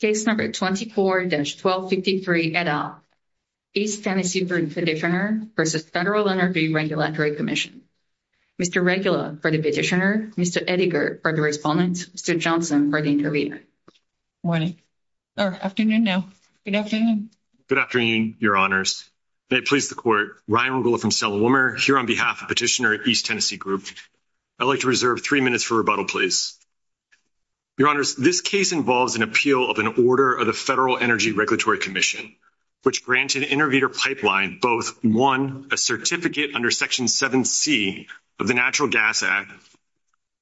Case No. 24-1253, et al., East Tennessee Group Petitioner v. Federal Energy Regulatory Commission. Mr. Regula for the petitioner, Mr. Ediger for the respondent, Mr. Johnson for the interviewer. Good afternoon, Your Honors. May it please the Court, Ryan Regula from Selma-Wilmer here on behalf of Petitioner, East Tennessee Group. I'd like to reserve three minutes for rebuttal, please. Your Honors, this case involves an appeal of an order of the Federal Energy Regulatory Commission, which granted Interviewer Pipeline both, one, a certificate under Section 7c of the Natural Gas Act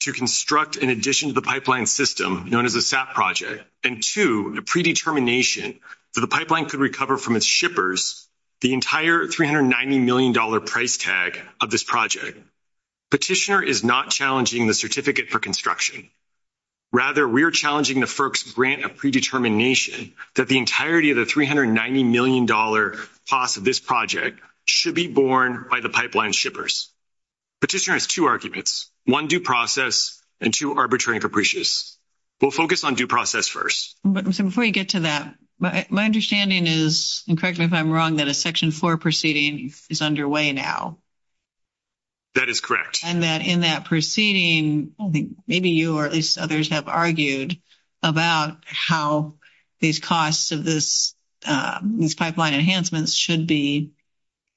to construct an addition to the pipeline system known as a SAP project, and two, a predetermination that the pipeline could recover from its shippers the entire $390 million price tag of this project. Petitioner is not challenging the certificate for construction. Rather, we're challenging the FERC's grant of predetermination that the entirety of the $390 million cost of this project should be borne by the pipeline shippers. Petitioner has two arguments, one, due process, and two, arbitrary and capricious. We'll focus on due process first. But before you get to that, my understanding is, and correct me if I'm wrong, that a Section 4 proceeding is underway now. That is correct. And that in that proceeding, I think maybe you or at least others have argued about how these costs of this, these pipeline enhancements should be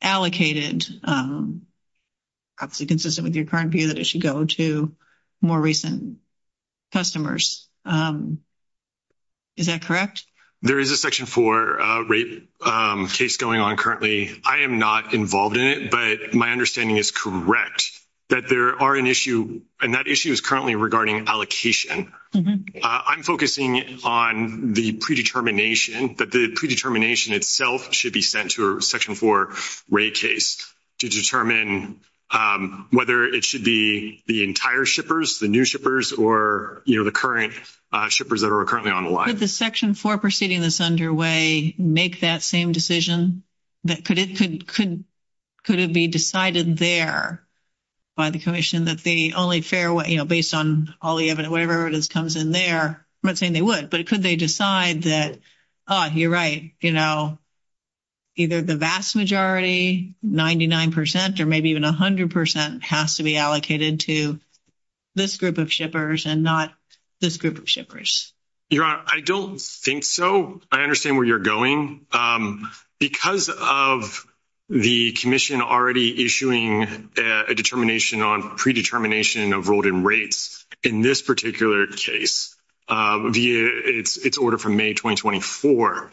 allocated, obviously consistent with your current view, that it should go to more recent customers. Is that correct? There is a Section 4 rate case going on currently. I am not involved in it, but my understanding is correct that there are an issue, and that issue is currently regarding allocation. I'm focusing on the predetermination that the predetermination itself should be sent to a Section 4 rate case to determine whether it should be the entire shippers, the new shippers, or the current shippers. Shippers that are currently on the line. Could the Section 4 proceeding that's underway make that same decision that could it be decided there by the commission that the only fair way, based on all the evidence, whatever it is comes in there, I'm not saying they would, but it could they decide that, oh, you're right, you know. Either the vast majority, 99%, or maybe even 100% has to be allocated to. This group of shippers and not this group of shippers. Your honor, I don't think so. I understand where you're going because of. The commission already issuing a determination on predetermination of rolled in rates in this particular case. It's it's order from May 2024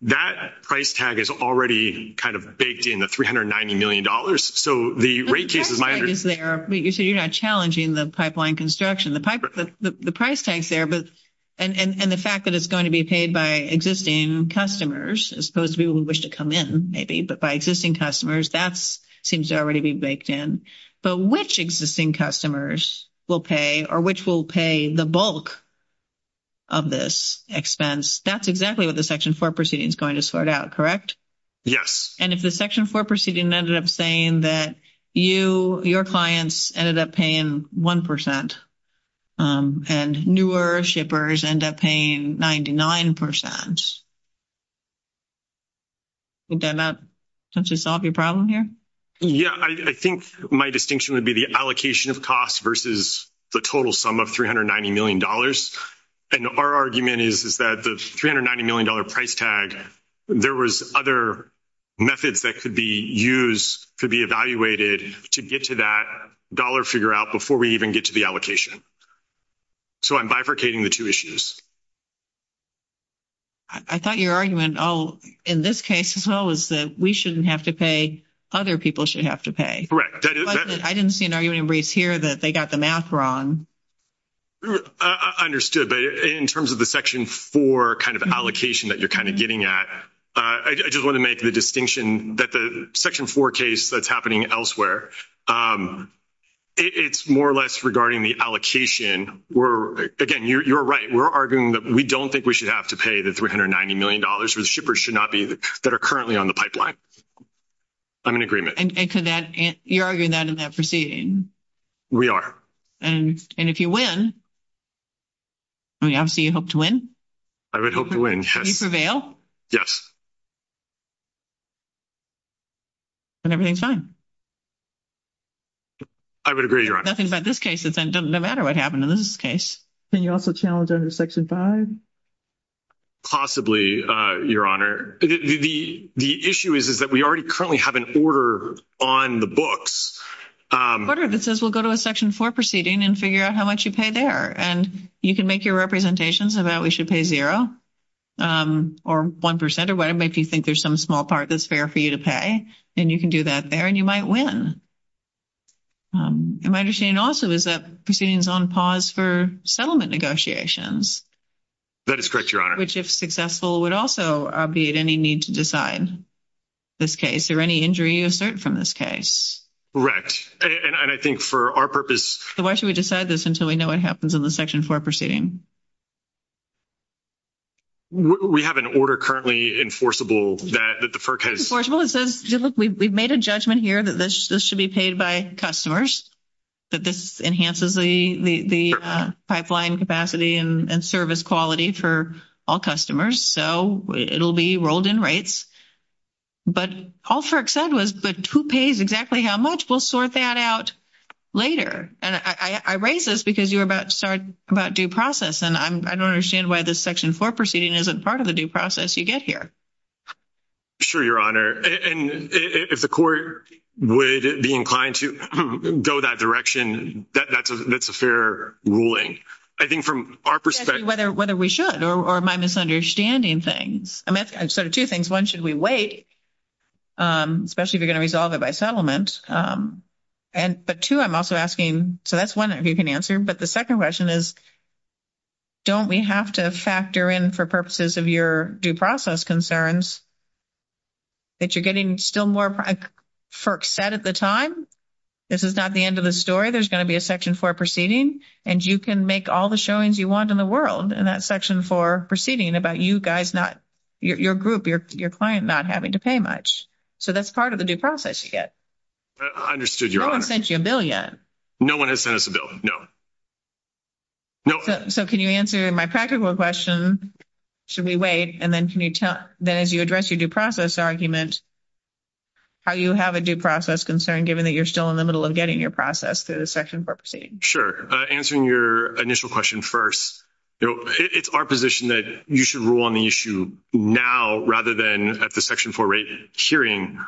that price tag is already kind of baked in the 390Million dollars. So the rate case is there, but you said you're not challenging the pipeline construction, the pipe, the price tags there, but. And the fact that it's going to be paid by existing customers, as opposed to people who wish to come in, maybe, but by existing customers, that's seems to already be baked in. But which existing customers will pay or which will pay the bulk. Of this expense, that's exactly what the section 4 proceeding is going to start out. Correct. Yes, and if the section 4 proceeding ended up saying that you, your clients ended up paying 1%. And newer shippers end up paying 99%. Does that not just solve your problem here? Yeah, I think my distinction would be the allocation of costs versus the total sum of 390Million dollars. And our argument is, is that the 390Million dollar price tag. There was other methods that could be used to be evaluated to get to that dollar figure out before we even get to the allocation. So, I'm bifurcating the 2 issues. I thought your argument in this case as well is that we shouldn't have to pay. Other people should have to pay. Correct. I didn't see an argument raised here that they got the math wrong. Understood, but in terms of the section 4 kind of allocation that you're kind of getting at, I just want to make the distinction that the section 4 case that's happening elsewhere. It's more or less regarding the allocation. We're again, you're right. We're arguing that we don't think we should have to pay the 390Million dollars for the shippers should not be that are currently on the pipeline. I'm in agreement and you're arguing that in that proceeding. We are, and if you win, I mean, obviously you hope to win. I would hope to win prevail. Yes. And everything's fine. I would agree. Nothing about this case. It doesn't matter what happened in this case. Can you also challenge under section 5? Possibly, your honor, the issue is, is that we already currently have an order on the books that says, we'll go to a section 4 proceeding and figure out how much you pay there and you can make your representations about we should pay 0. Or 1% or whatever, if you think there's some small part, that's fair for you to pay and you can do that there and you might win. And my understanding also is that proceedings on pause for settlement negotiations. That is correct, your honor, which if successful would also be at any need to decide. This case or any injury you assert from this case, right? And I think for our purpose, why should we decide this until we know what happens in the section 4 proceeding? We have an order currently enforceable that the first one says, look, we've made a judgment here that this should be paid by customers. That this enhances the pipeline capacity and service quality for all customers, so it'll be rolled in rates. But all said was, but who pays exactly how much we'll sort that out. Later, and I raise this because you're about to start about due process and I don't understand why this section 4 proceeding isn't part of the due process. You get here. Sure, your honor, and if the court would be inclined to go that direction, that's a fair ruling. I think from our perspective, whether we should or my misunderstanding things, I'm sort of 2 things. 1. should we wait? Especially if you're going to resolve it by settlement. And, but 2, I'm also asking, so that's 1, if you can answer, but the 2nd question is. Don't we have to factor in for purposes of your due process concerns. That you're getting still more set at the time. This is not the end of the story. There's going to be a section for proceeding and you can make all the showings you want in the world and that section for proceeding about you guys. Not. Your group, your client not having to pay much. So that's part of the due process to get. I understood your sent you a billion. No, 1 has sent us a bill. No. No, so can you answer my practical question? Should we wait and then can you tell that as you address your due process argument. How you have a due process concern, given that you're still in the middle of getting your process through the section for proceeding. Sure. Answering your initial question. 1st. You know, it's our position that you should rule on the issue now, rather than at the section for rate hearing.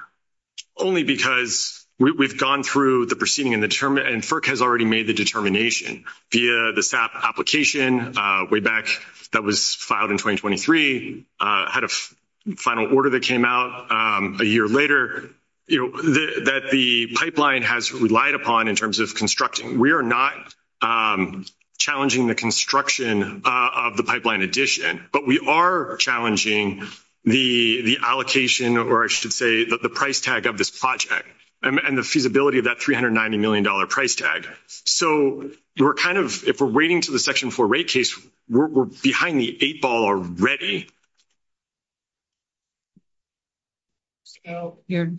Only because we've gone through the proceeding and the term and has already made the determination via the SAP application way back. That was filed in 2023 had a final order that came out a year later. You know, that the pipeline has relied upon in terms of constructing. We are not. Challenging the construction of the pipeline addition, but we are challenging the, the allocation, or I should say that the price tag of this project and the feasibility of that 390Million dollar price tag. So, we're kind of, if we're waiting to the section for rate case, we're behind the 8 ball already. So, you're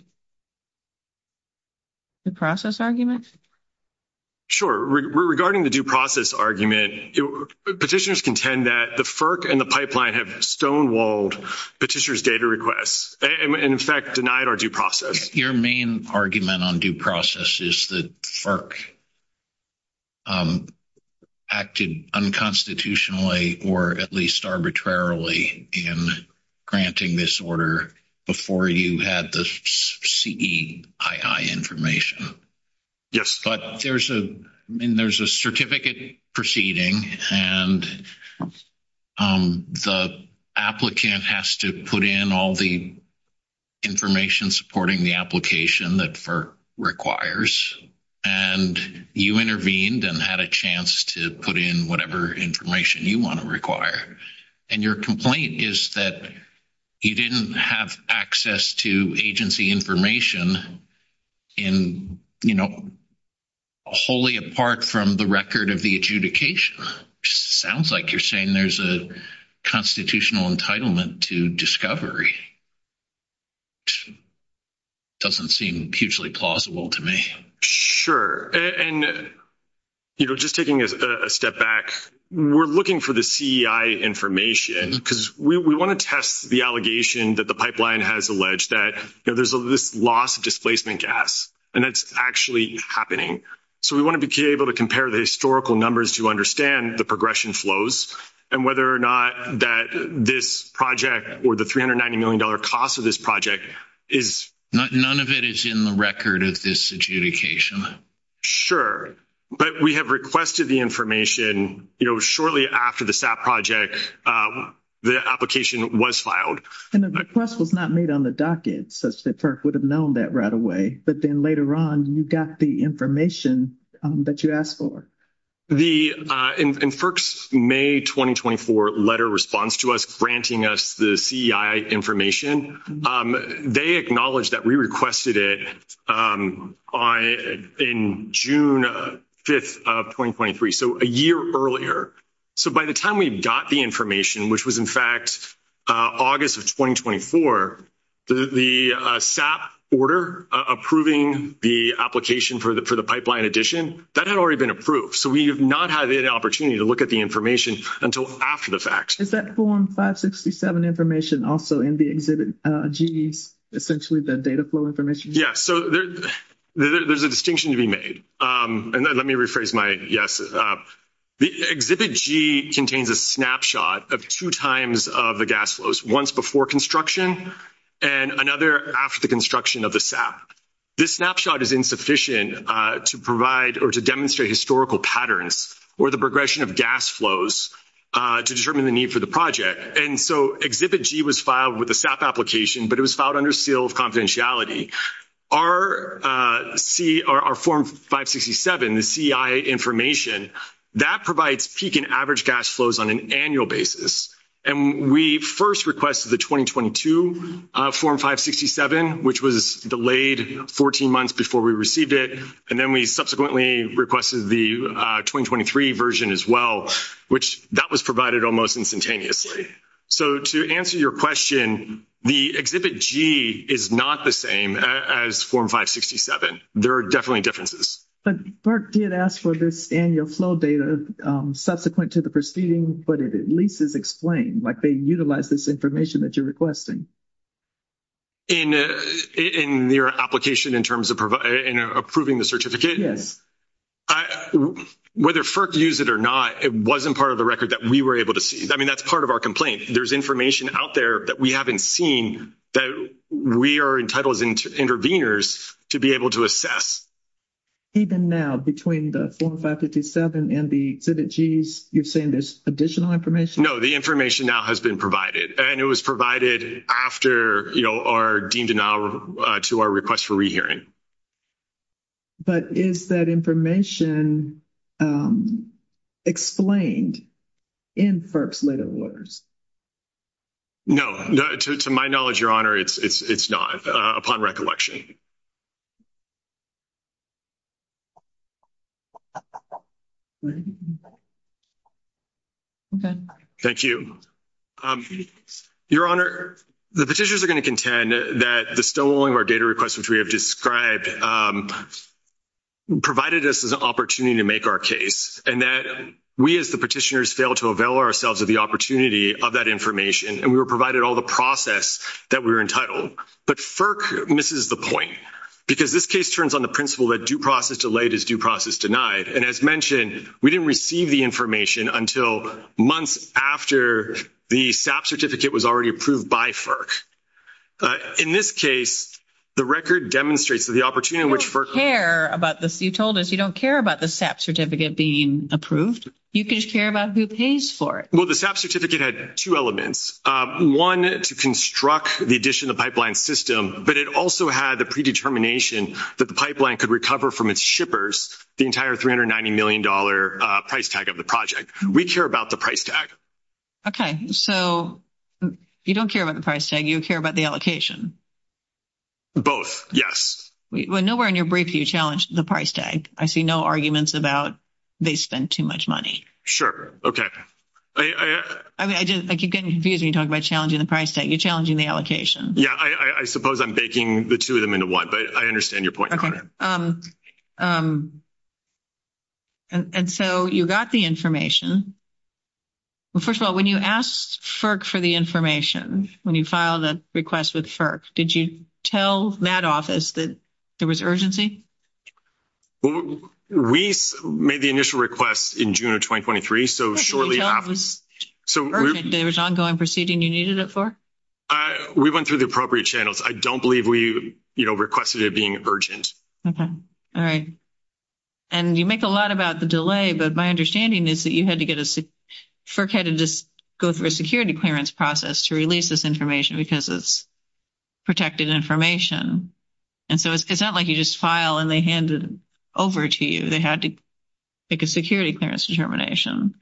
the process argument. Sure, regarding the due process argument, petitioners contend that the FERC and the pipeline have stonewalled petitions data requests and in fact, denied our due process. Your main argument on due process is the FERC. Um, acted unconstitutionally, or at least arbitrarily in. Granting this order before you had the CII information. Yes, but there's a, I mean, there's a certificate proceeding and. The applicant has to put in all the. Information supporting the application that for requires. And you intervened and had a chance to put in whatever information you want to require and your complaint is that. You didn't have access to agency information. In, you know, wholly apart from the record of the adjudication sounds like you're saying there's a constitutional entitlement to discovery. Doesn't seem hugely plausible to me. Sure. And. There's this loss of displacement gas, and that's actually happening. So we want to be able to compare the historical numbers to understand the progression flows and whether or not that this project, or the 390Million dollar cost of this project is none of it is in the record of this adjudication. Sure, but we have requested the information shortly after the SAP project. The application was filed and the request was not made on the docket such that would have known that right away. But then later on, you got the information that you asked for. The in first May 2024 letter response to us, granting us the CII information, they acknowledge that we requested it on in June 5th of 2023. So a year earlier, so, by the time we've got the information, which was, in fact, August of 2024, the SAP order approving the application for the pipeline addition that had already been approved. So, we have not had the opportunity to look at the information until after the fact. Is that form 567 information also in the exhibit G's essentially the data flow information? Yeah. So, there's a distinction to be made and let me rephrase my yes. The exhibit G contains a snapshot of 2 times of the gas flows once before construction and another after the construction of the SAP. This snapshot is insufficient to provide or to demonstrate historical patterns, or the progression of gas flows to determine the need for the project. And so, exhibit G was filed with the SAP application, but it was filed under seal of confidentiality. Our form 567, the CII information, that provides peak and average gas flows on an annual basis. And we first requested the 2022 form 567, which was delayed 14 months before we received it and then we subsequently requested the 2023 version as well, which that was provided almost instantaneously. So, to answer your question, the exhibit G is not the same as form 567. There are definitely differences. But FERC did ask for this annual flow data subsequent to the proceeding, but it at least is explained, like, they utilize this information that you're requesting. In your application in terms of approving the certificate? Yes. Whether FERC used it or not, it wasn't part of the record that we were able to see. I mean, that's part of our complaint. There's information out there that we haven't seen that we are entitled as intervenors to be able to assess. Even now, between the form 557 and the exhibit G's, you're saying there's additional information? No, the information now has been provided and it was provided after our deemed denial to our request for re-hearing. But is that information explained in FERC's letter of orders? No, to my knowledge, Your Honor, it's not, upon recollection. Okay, thank you. Your Honor, the petitioners are going to contend that the stalling of our data requests, which we have described, provided us an opportunity to make our case and that we, as the petitioners, fail to avail ourselves of the opportunity of that information and we were provided all the process that we were entitled. No, but FERC misses the point because this case turns on the principle that due process delayed is due process denied. And as mentioned, we didn't receive the information until months after the SAP certificate was already approved by FERC. In this case, the record demonstrates that the opportunity in which FERC- You don't care about this. You told us you don't care about the SAP certificate being approved. You just care about who pays for it. Well, the SAP certificate had two elements. One, to construct the addition of the pipeline system, but it also had the predetermination that the pipeline could recover from its shippers the entire $390 million price tag of the project. We care about the price tag. Okay, so you don't care about the price tag. You care about the allocation. Both, yes. Well, nowhere in your brief do you challenge the price tag. I see no arguments about they spent too much money. Sure. Okay. I mean, I just I keep getting confused when you talk about challenging the price tag. You're challenging the allocation. Yeah, I suppose I'm baking the two of them into one, but I understand your point. And so you got the information. Well, first of all, when you asked FERC for the information, when you filed a request with FERC, did you tell that office that there was urgency? We made the initial request in June of 2023. So shortly after. So, there was ongoing proceeding you needed it for? We went through the appropriate channels. I don't believe we requested it being urgent. Okay. All right. And you make a lot about the delay, but my understanding is that you had to get a FERC head to just go through a security clearance process to release this information because it's protected information. And so it's not like you just file and they hand it over to you. They had to make a security clearance determination.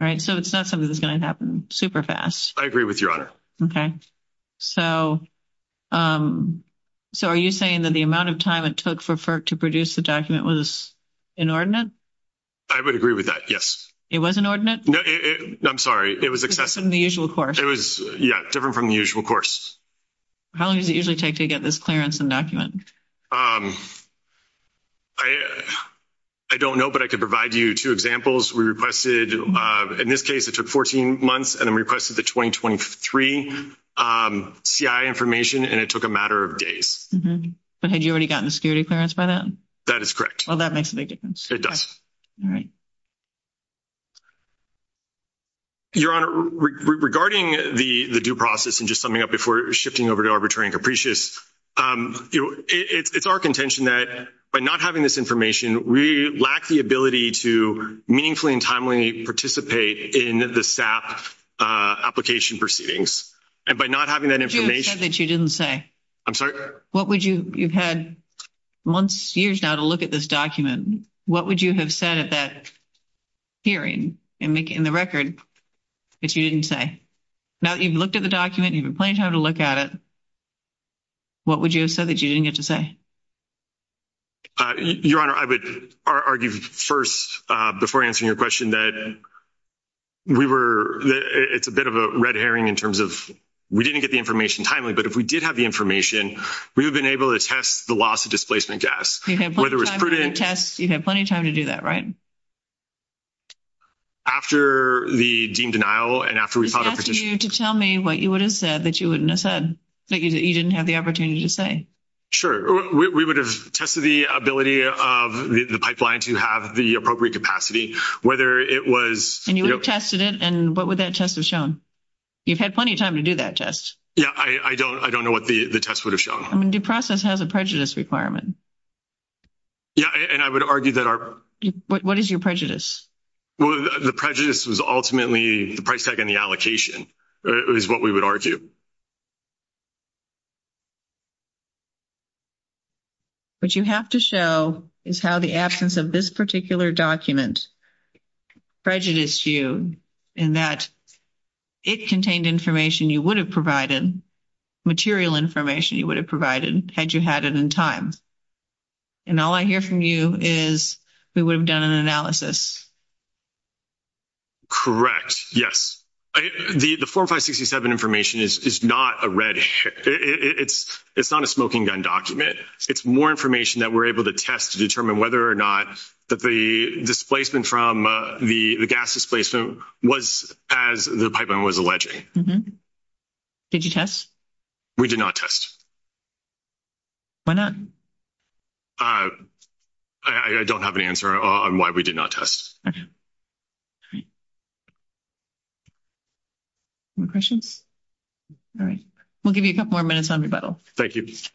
All right, so it's not something that's going to happen super fast. I agree with your honor. Okay. So, so are you saying that the amount of time it took for FERC to produce the document was inordinate? I would agree with that. Yes, it was inordinate. No, I'm sorry. It was excessive in the usual course. It was different from the usual course. How long does it usually take to get this clearance and document? I don't know, but I could provide you 2 examples. We requested in this case, it took 14 months and then requested the 2023 CI information and it took a matter of days. But had you already gotten the security clearance by then? That is correct. Well, that makes a big difference. It does. All right. Your honor, regarding the due process and just summing up before shifting over to arbitrary and capricious, it's our contention that by not having this information, we lack the ability to meaningfully and timely participate in the SAP application proceedings and by not having that information that you didn't say. I'm sorry. What would you, you've had months, years now to look at this document. What would you have said at that hearing and make it in the record that you didn't say? Now that you've looked at the document, you've been plenty of time to look at it. What would you have said that you didn't get to say? Your honor, I would argue 1st before answering your question that we were, it's a bit of a red herring in terms of we didn't get the information timely. But if we did have the information, we've been able to test the loss of displacement gas. You have plenty of time to do that, right? After the deemed denial, and after we've asked you to tell me what you would have said that you wouldn't have said that you didn't have the opportunity to say. Sure, we would have tested the ability of the pipeline to have the appropriate capacity, whether it was and you tested it. And what would that test have shown? You've had plenty of time to do that test. Yeah, I don't I don't know what the test would have shown. I mean, due process has a prejudice requirement. Yeah, and I would argue that are what is your prejudice? Well, the prejudice was ultimately the price tag and the allocation is what we would argue. But you have to show is how the absence of this particular document prejudice you in that. It contained information you would have provided material information you would have provided had you had it in time. And all I hear from you is we would have done an analysis. Correct yes, the, the 4, 5, 67 information is not a red. It's it's not a smoking gun document. It's more information that we're able to test to determine whether or not that the displacement from the gas displacement was as the pipeline was alleged. Did you test? We did not test why not. I, I don't have an answer on why we did not test. Questions. All right, we'll give you a couple more minutes on rebuttal. Thank you. Silence.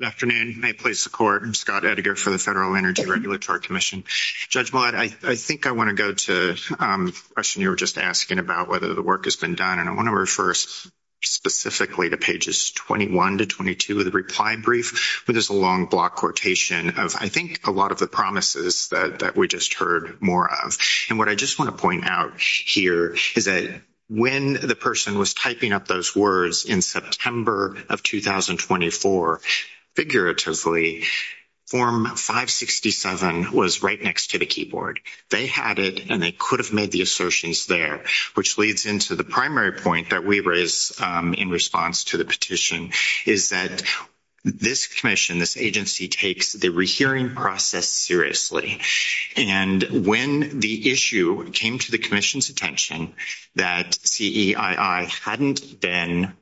Good afternoon may place the court and Scott editor for the Federal Energy Regulatory Commission judge. I think I want to go to question. You were just asking about whether the work has been done and I want to refer specifically to pages, 21 to 22 of the reply brief. But there's a long block quotation of, I think, a lot of the promises that we just heard more of and what I just want to point out here is that when the person was typing up those words in September of 2024, figuratively form 567 was right next to the keyboard they had it and they could have made the assertions there, which leads into the primary point that we raise in response to the petition is that. This commission, this agency takes the rehearing process seriously and when the issue came to the commission's attention that hadn't been.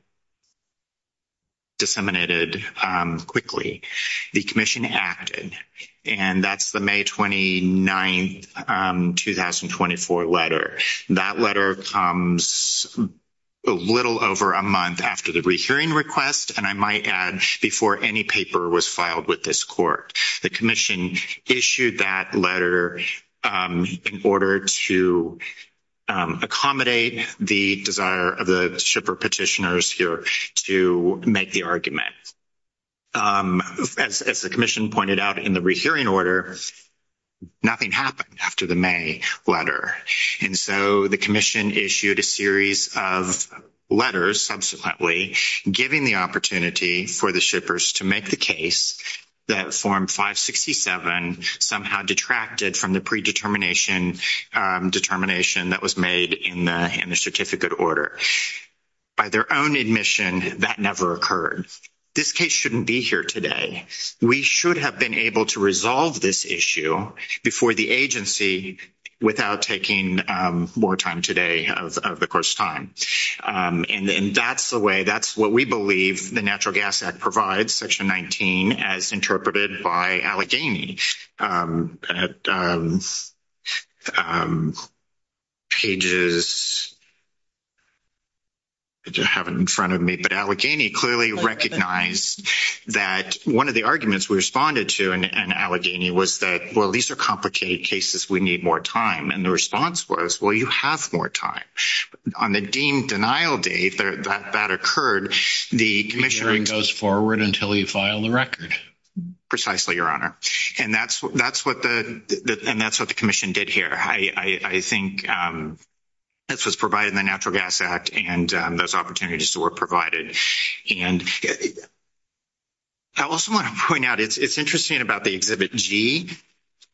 Disseminated quickly, the commission acted and that's the May 29th 2024 letter that letter comes. A little over a month after the rehearing request, and I might add before any paper was filed with this court, the commission issued that letter in order to. Accommodate the desire of the shipper petitioners here to make the argument. As as the commission pointed out in the rehearing order. Nothing happened after the May letter and so the commission issued a series of letters subsequently, giving the opportunity for the shippers to make the case that form 567 somehow detracted from the predetermination determination that was made in the certificate order. By their own admission, that never occurred. This case shouldn't be here today. We should have been able to resolve this issue before the agency without taking more time today of the course time and that's the way that's what we believe the natural gas act provides section 19 as interpreted by Allegheny. Um, at, um, um. Pages to have in front of me, but Allegheny clearly recognize that 1 of the arguments we responded to and Allegheny was that well, these are complicated cases. We need more time. And the response was, well, you have more time on the deemed denial date that that occurred the commission goes forward until you file the record. Precisely your honor and that's that's what the, and that's what the commission did here. I, I, I think. This was provided the natural gas act and those opportunities to work provided and. I also want to point out it's it's interesting about the exhibit G.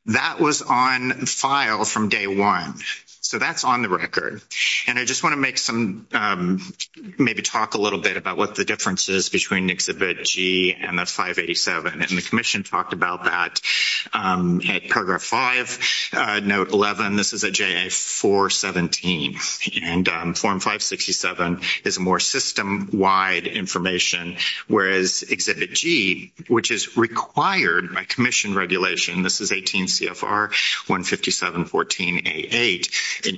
That was on file from day 1, so that's on the record and I just want to make some, maybe talk a little bit about what the differences between exhibit G and the 587 and the commission talked about that at paragraph 5 note. 11. this is a 417 and form 567 is a more system wide information whereas exhibit G, which is required by commission regulation. This is 18 CFR 1, 5714 a 8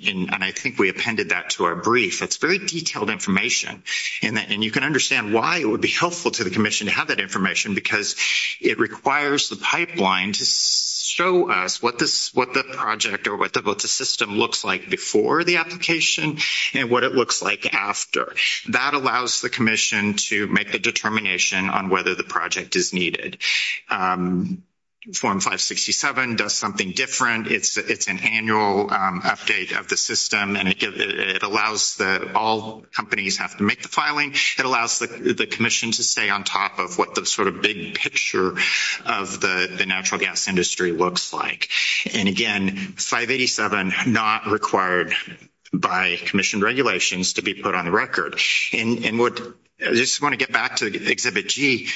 and I think we appended that to our brief. It's very detailed information and that and you can understand why it would be helpful to the commission to have that information because it requires the pipeline to show us what this, what the project or what the system looks like before the application and what it looks like after that allows the commission to make the determination on whether the project is needed. Form 567 does something different. It's it's an annual update of the system and it allows that all companies have to make the filing. It allows the commission to stay on top of what the sort of big picture of the natural gas industry looks like and again, 587 not required by commissioned regulations to be put on the record and what I just want to get back to the exhibit G.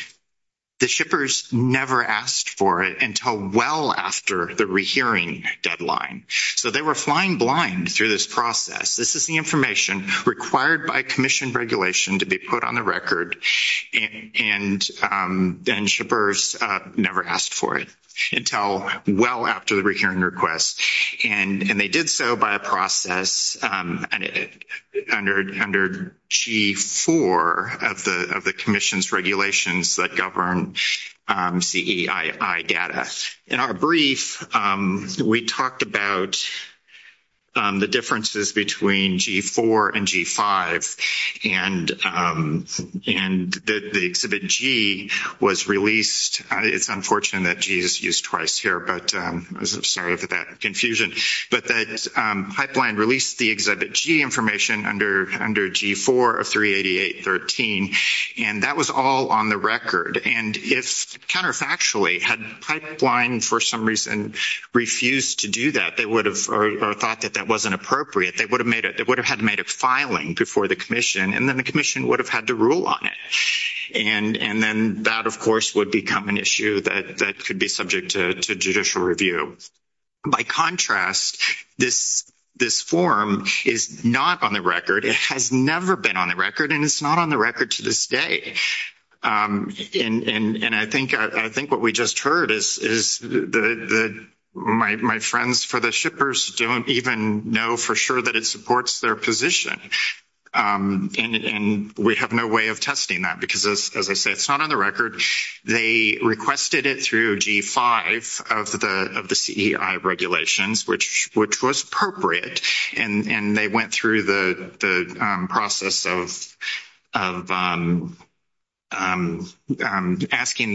The shippers never asked for it until well, after the rehearing deadline, so they were flying blind through this process. This is the information required by commission regulation to be put on the record and then shippers never asked for it until well, after the rehearing request and they did so by a process under G4 of the of the commission's regulations. That govern data in our brief, we talked about the differences between G4 and G5 and and the exhibit G was released. It's unfortunate that Jesus used twice here, but I'm sorry for that confusion, but that pipeline released the exhibit G information under under G4 of 38813 and that was all on the record. And if counterfactually had pipeline for some reason, refused to do that, they would have thought that that wasn't appropriate. They would have made it. They would have had made a filing before the commission and then the commission would have had to rule on it. And and then that, of course, would become an issue that that could be subject to judicial review by contrast, this, this form is not on the record. It has never been on the record and it's not on the record to this day. And I think I think what we just heard is is the, my, my friends for the shippers don't even know for sure that it supports their position and we have no way of testing that because, as I said, it's not on the record, they requested it through G5 of the of the regulations, which, which was appropriate and they went through the process of. Asking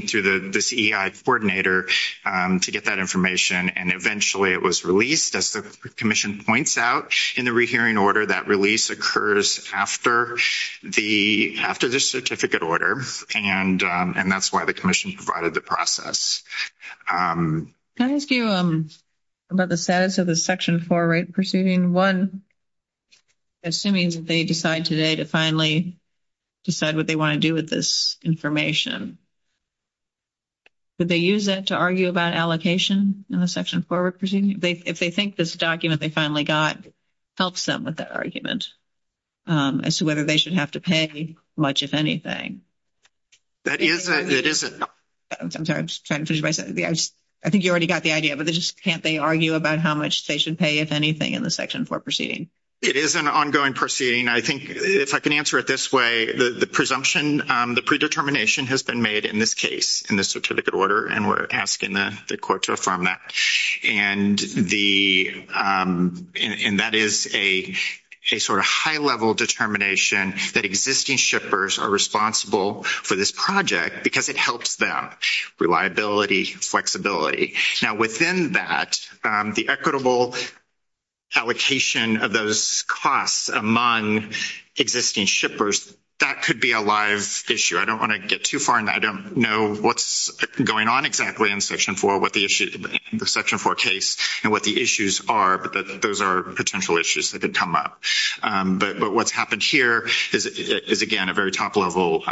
to the coordinator to get that information and eventually it was released as the commission points out in the re, hearing order that release occurs after the after the certificate order. And and that's why the commission provided the process. Can I ask you about the status of the section for right? Pursuing 1. Assuming that they decide today to finally. Decide what they want to do with this information. But they use that to argue about allocation in the section forward proceeding. If they think this document they finally got helps them with that argument. As to whether they should have to pay much, if anything. That is, it isn't. I'm sorry. I'm just trying to finish. I think you already got the idea, but they just can't, they argue about how much they should pay if anything in the section for proceeding. It is an ongoing proceeding. I think if I can answer it this way, the presumption, the predetermination has been made in this case, in this certificate order, and we're asking the court to affirm that and the and that is a sort of high level determination that existing shippers are responsible for this project because it helps them reliability, flexibility now, within that the equitable. Allocation of those costs among existing shippers. That could be a live issue. I don't want to get too far and I don't know what's going on exactly in section for what the issue in the section for case and what the issues are. But those are potential issues that could come up. But what's happened here is again a very top level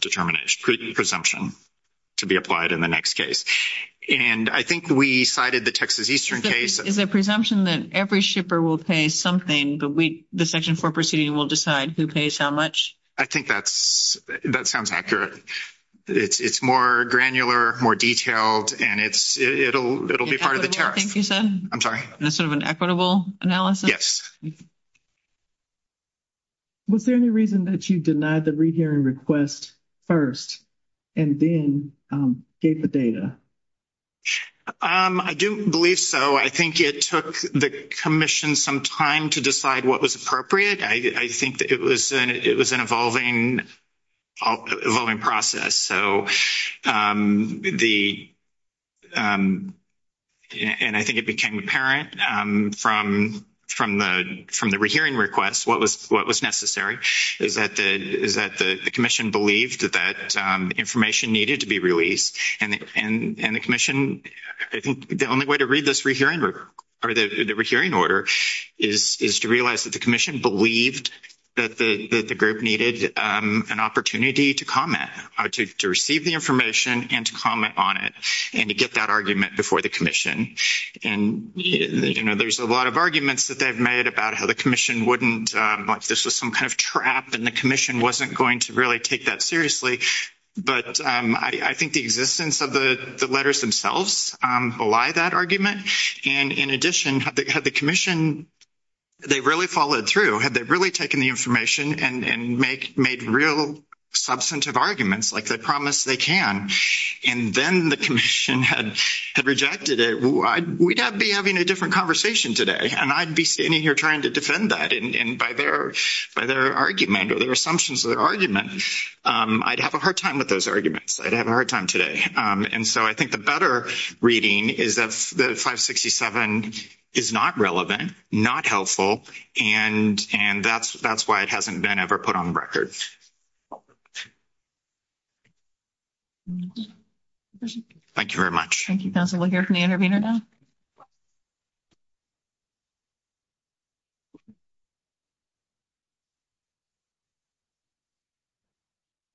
determination presumption. To be applied in the next case, and I think we cited the Texas Eastern case is a presumption that every shipper will pay something, but we, the section for proceeding will decide who pays how much. I think that's that sounds accurate. It's it's more granular, more detailed and it's, it'll, it'll be part of the tariff. You said, I'm sorry. That's sort of an equitable analysis. Yes. Was there any reason that you denied the re, hearing request 1st. And then gave the data, I do believe. So I think it took the commission some time to decide what was appropriate. I think that it was an, it was an evolving. Evolving process, so the. And I think it became apparent from from the, from the re, hearing requests, what was what was necessary is that the, is that the commission believed that that information needed to be released and the commission I think the only way to read this re, hearing or the re, hearing order is to realize that the commission believed that the group needed an opportunity to comment to receive the information and to comment on it. And to get that argument before the commission, and there's a lot of arguments that they've made about how the commission wouldn't this was some kind of trap and the commission wasn't going to really take that seriously. But I think the existence of the letters themselves, why that argument? And in addition, have the commission. They really followed through had they really taken the information and make made real substantive arguments like that promise they can and then the commission had had rejected it. We'd have be having a different conversation today and I'd be standing here trying to defend that. And by their, by their argument, or their assumptions of their argument, I'd have a hard time with those arguments. I'd have a hard time today. And so I think the better reading is that the 567 is not relevant, not helpful. And, and that's, that's why it hasn't been ever put on record. Thank you very much. Thank you. That's a look at the intervener now.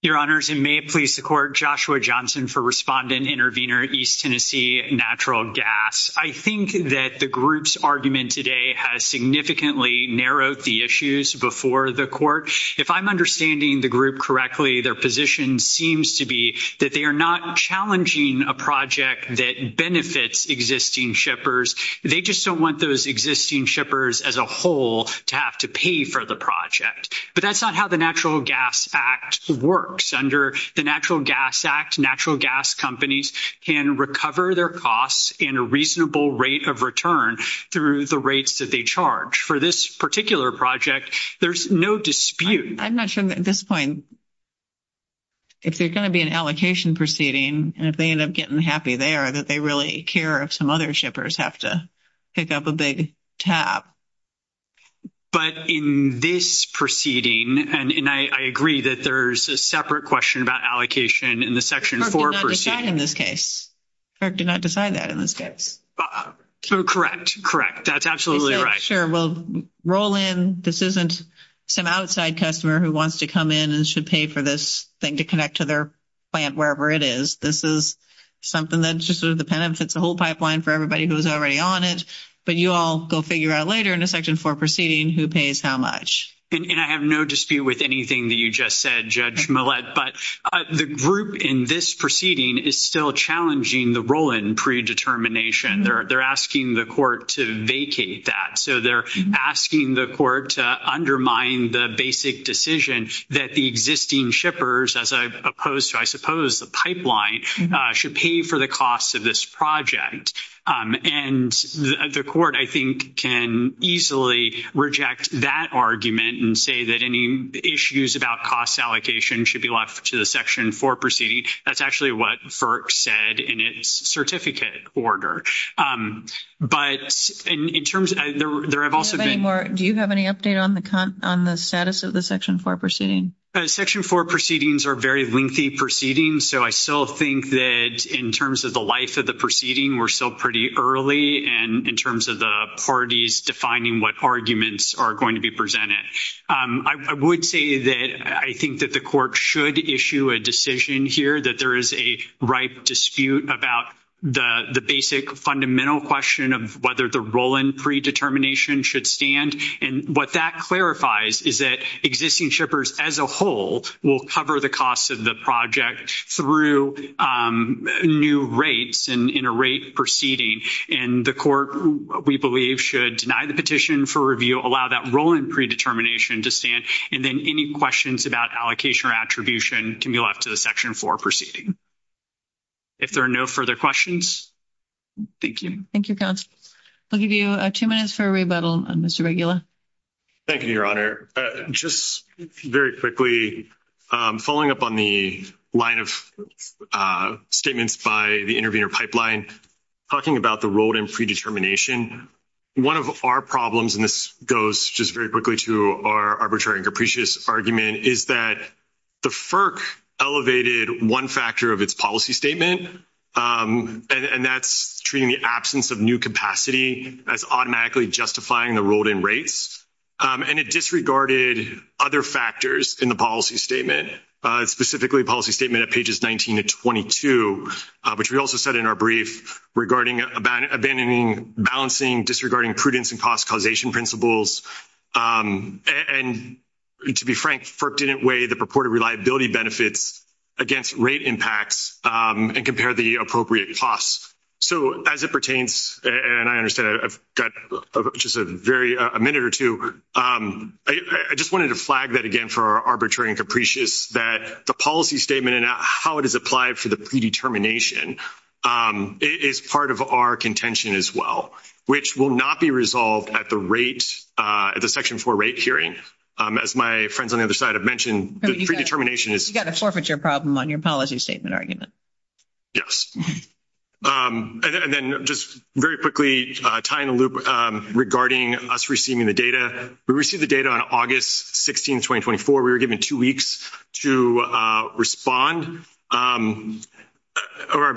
Your honors and may please the court Joshua Johnson for respondent intervener East Tennessee natural gas. I think that the groups argument today has significantly narrowed the issues before the court. If I'm understanding the group correctly, their position seems to be that they are not challenging a project that benefits existing shippers. They just don't want those existing shippers as a whole to have to pay for the project, but that's not how the natural gas act works under the natural gas act. Natural gas companies can recover their costs in a reasonable rate of return through the rates that they charge for this particular project. There's no dispute. I'm not sure at this point. If they're going to be an allocation proceeding, and if they end up getting happy, they are that they really care of some other shippers have to pick up a big tab. But in this proceeding, and I agree that there's a separate question about allocation in the section for in this case. Or do not decide that in this case correct correct. That's absolutely right. Sure. Well, roll in this isn't some outside customer who wants to come in and should pay for this thing to connect to their. Plant, wherever it is, this is something that just sort of the pen if it's a whole pipeline for everybody who's already on it, but you all go figure out later in a section for proceeding who pays how much and I have no dispute with anything that you just said judge. But the group in this proceeding is still challenging the role in predetermination. They're, they're asking the court to vacate that. So, they're asking the court to undermine the basic decision that the existing shippers as opposed to, I suppose, the pipeline should pay for the costs of this project. And the court, I think, can easily reject that argument and say that any issues about cost allocation should be left to the section for proceeding. That's actually what said in its certificate order. But in terms of there, I've also been more. Do you have any update on the on the status of the section for proceeding section for proceedings are very lengthy proceeding. So, I still think that in terms of the life of the proceeding, we're still pretty early and in terms of the parties, defining what arguments are going to be presented. I would say that I think that the court should issue a decision here that there is a ripe dispute about the basic fundamental question of whether the role in predetermination should stand. And what that clarifies is that existing shippers as a whole will cover the costs of the project through new rates and in a rate proceeding and the court, we believe should deny the petition for review. Allow that role in predetermination to stand and then any questions about allocation or attribution can be left to the section for proceeding. If there are no further questions, thank you. Thank you. Council. I'll give you 2 minutes for a rebuttal on Mr. regular. Thank you, your honor just very quickly following up on the line of statements by the interview pipeline. Talking about the road and predetermination 1 of our problems, and this goes just very quickly to our arbitrary and capricious argument is that. The FERC elevated 1 factor of its policy statement, and that's treating the absence of new capacity as automatically justifying the rolled in rates and it disregarded other factors in the policy statement, specifically policy statement at pages 19 to 22, which we also said in our brief regarding abandoning balancing disregarding prudence and cost causation principles. And to be frank, FERC didn't weigh the purported reliability benefits. Against rate impacts and compare the appropriate costs. So, as it pertains, and I understand I've got just a very a minute or 2. I just wanted to flag that again for our arbitrary and capricious that the policy statement and how it is applied for the predetermination. Is part of our contention as well, which will not be resolved at the rate at the section for rate hearing as my friends on the other side of mentioned determination is you got to forfeit your problem on your policy statement argument. Yes, and then just very quickly tie in a loop regarding us receiving the data. We received the data on August 16, 2024. we were given 2 weeks to respond. I'm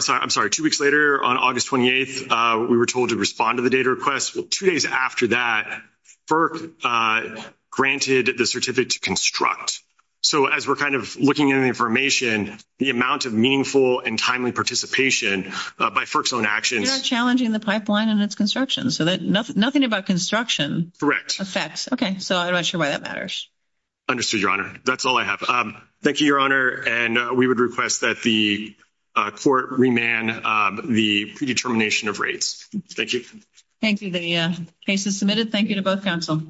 sorry, I'm sorry 2 weeks later on August 28th, we were told to respond to the data request 2 days after that for granted the certificate to construct. So, as we're kind of looking at the information, the amount of meaningful and timely participation by FERC's own actions, challenging the pipeline and its construction. So that nothing about construction effects. Okay. So I'm not sure why that matters. Understood your honor. That's all I have. Thank you. Your honor. And we would request that the court remand the predetermination of rates. Thank you. Thank you. The case is submitted. Thank you to both counsel.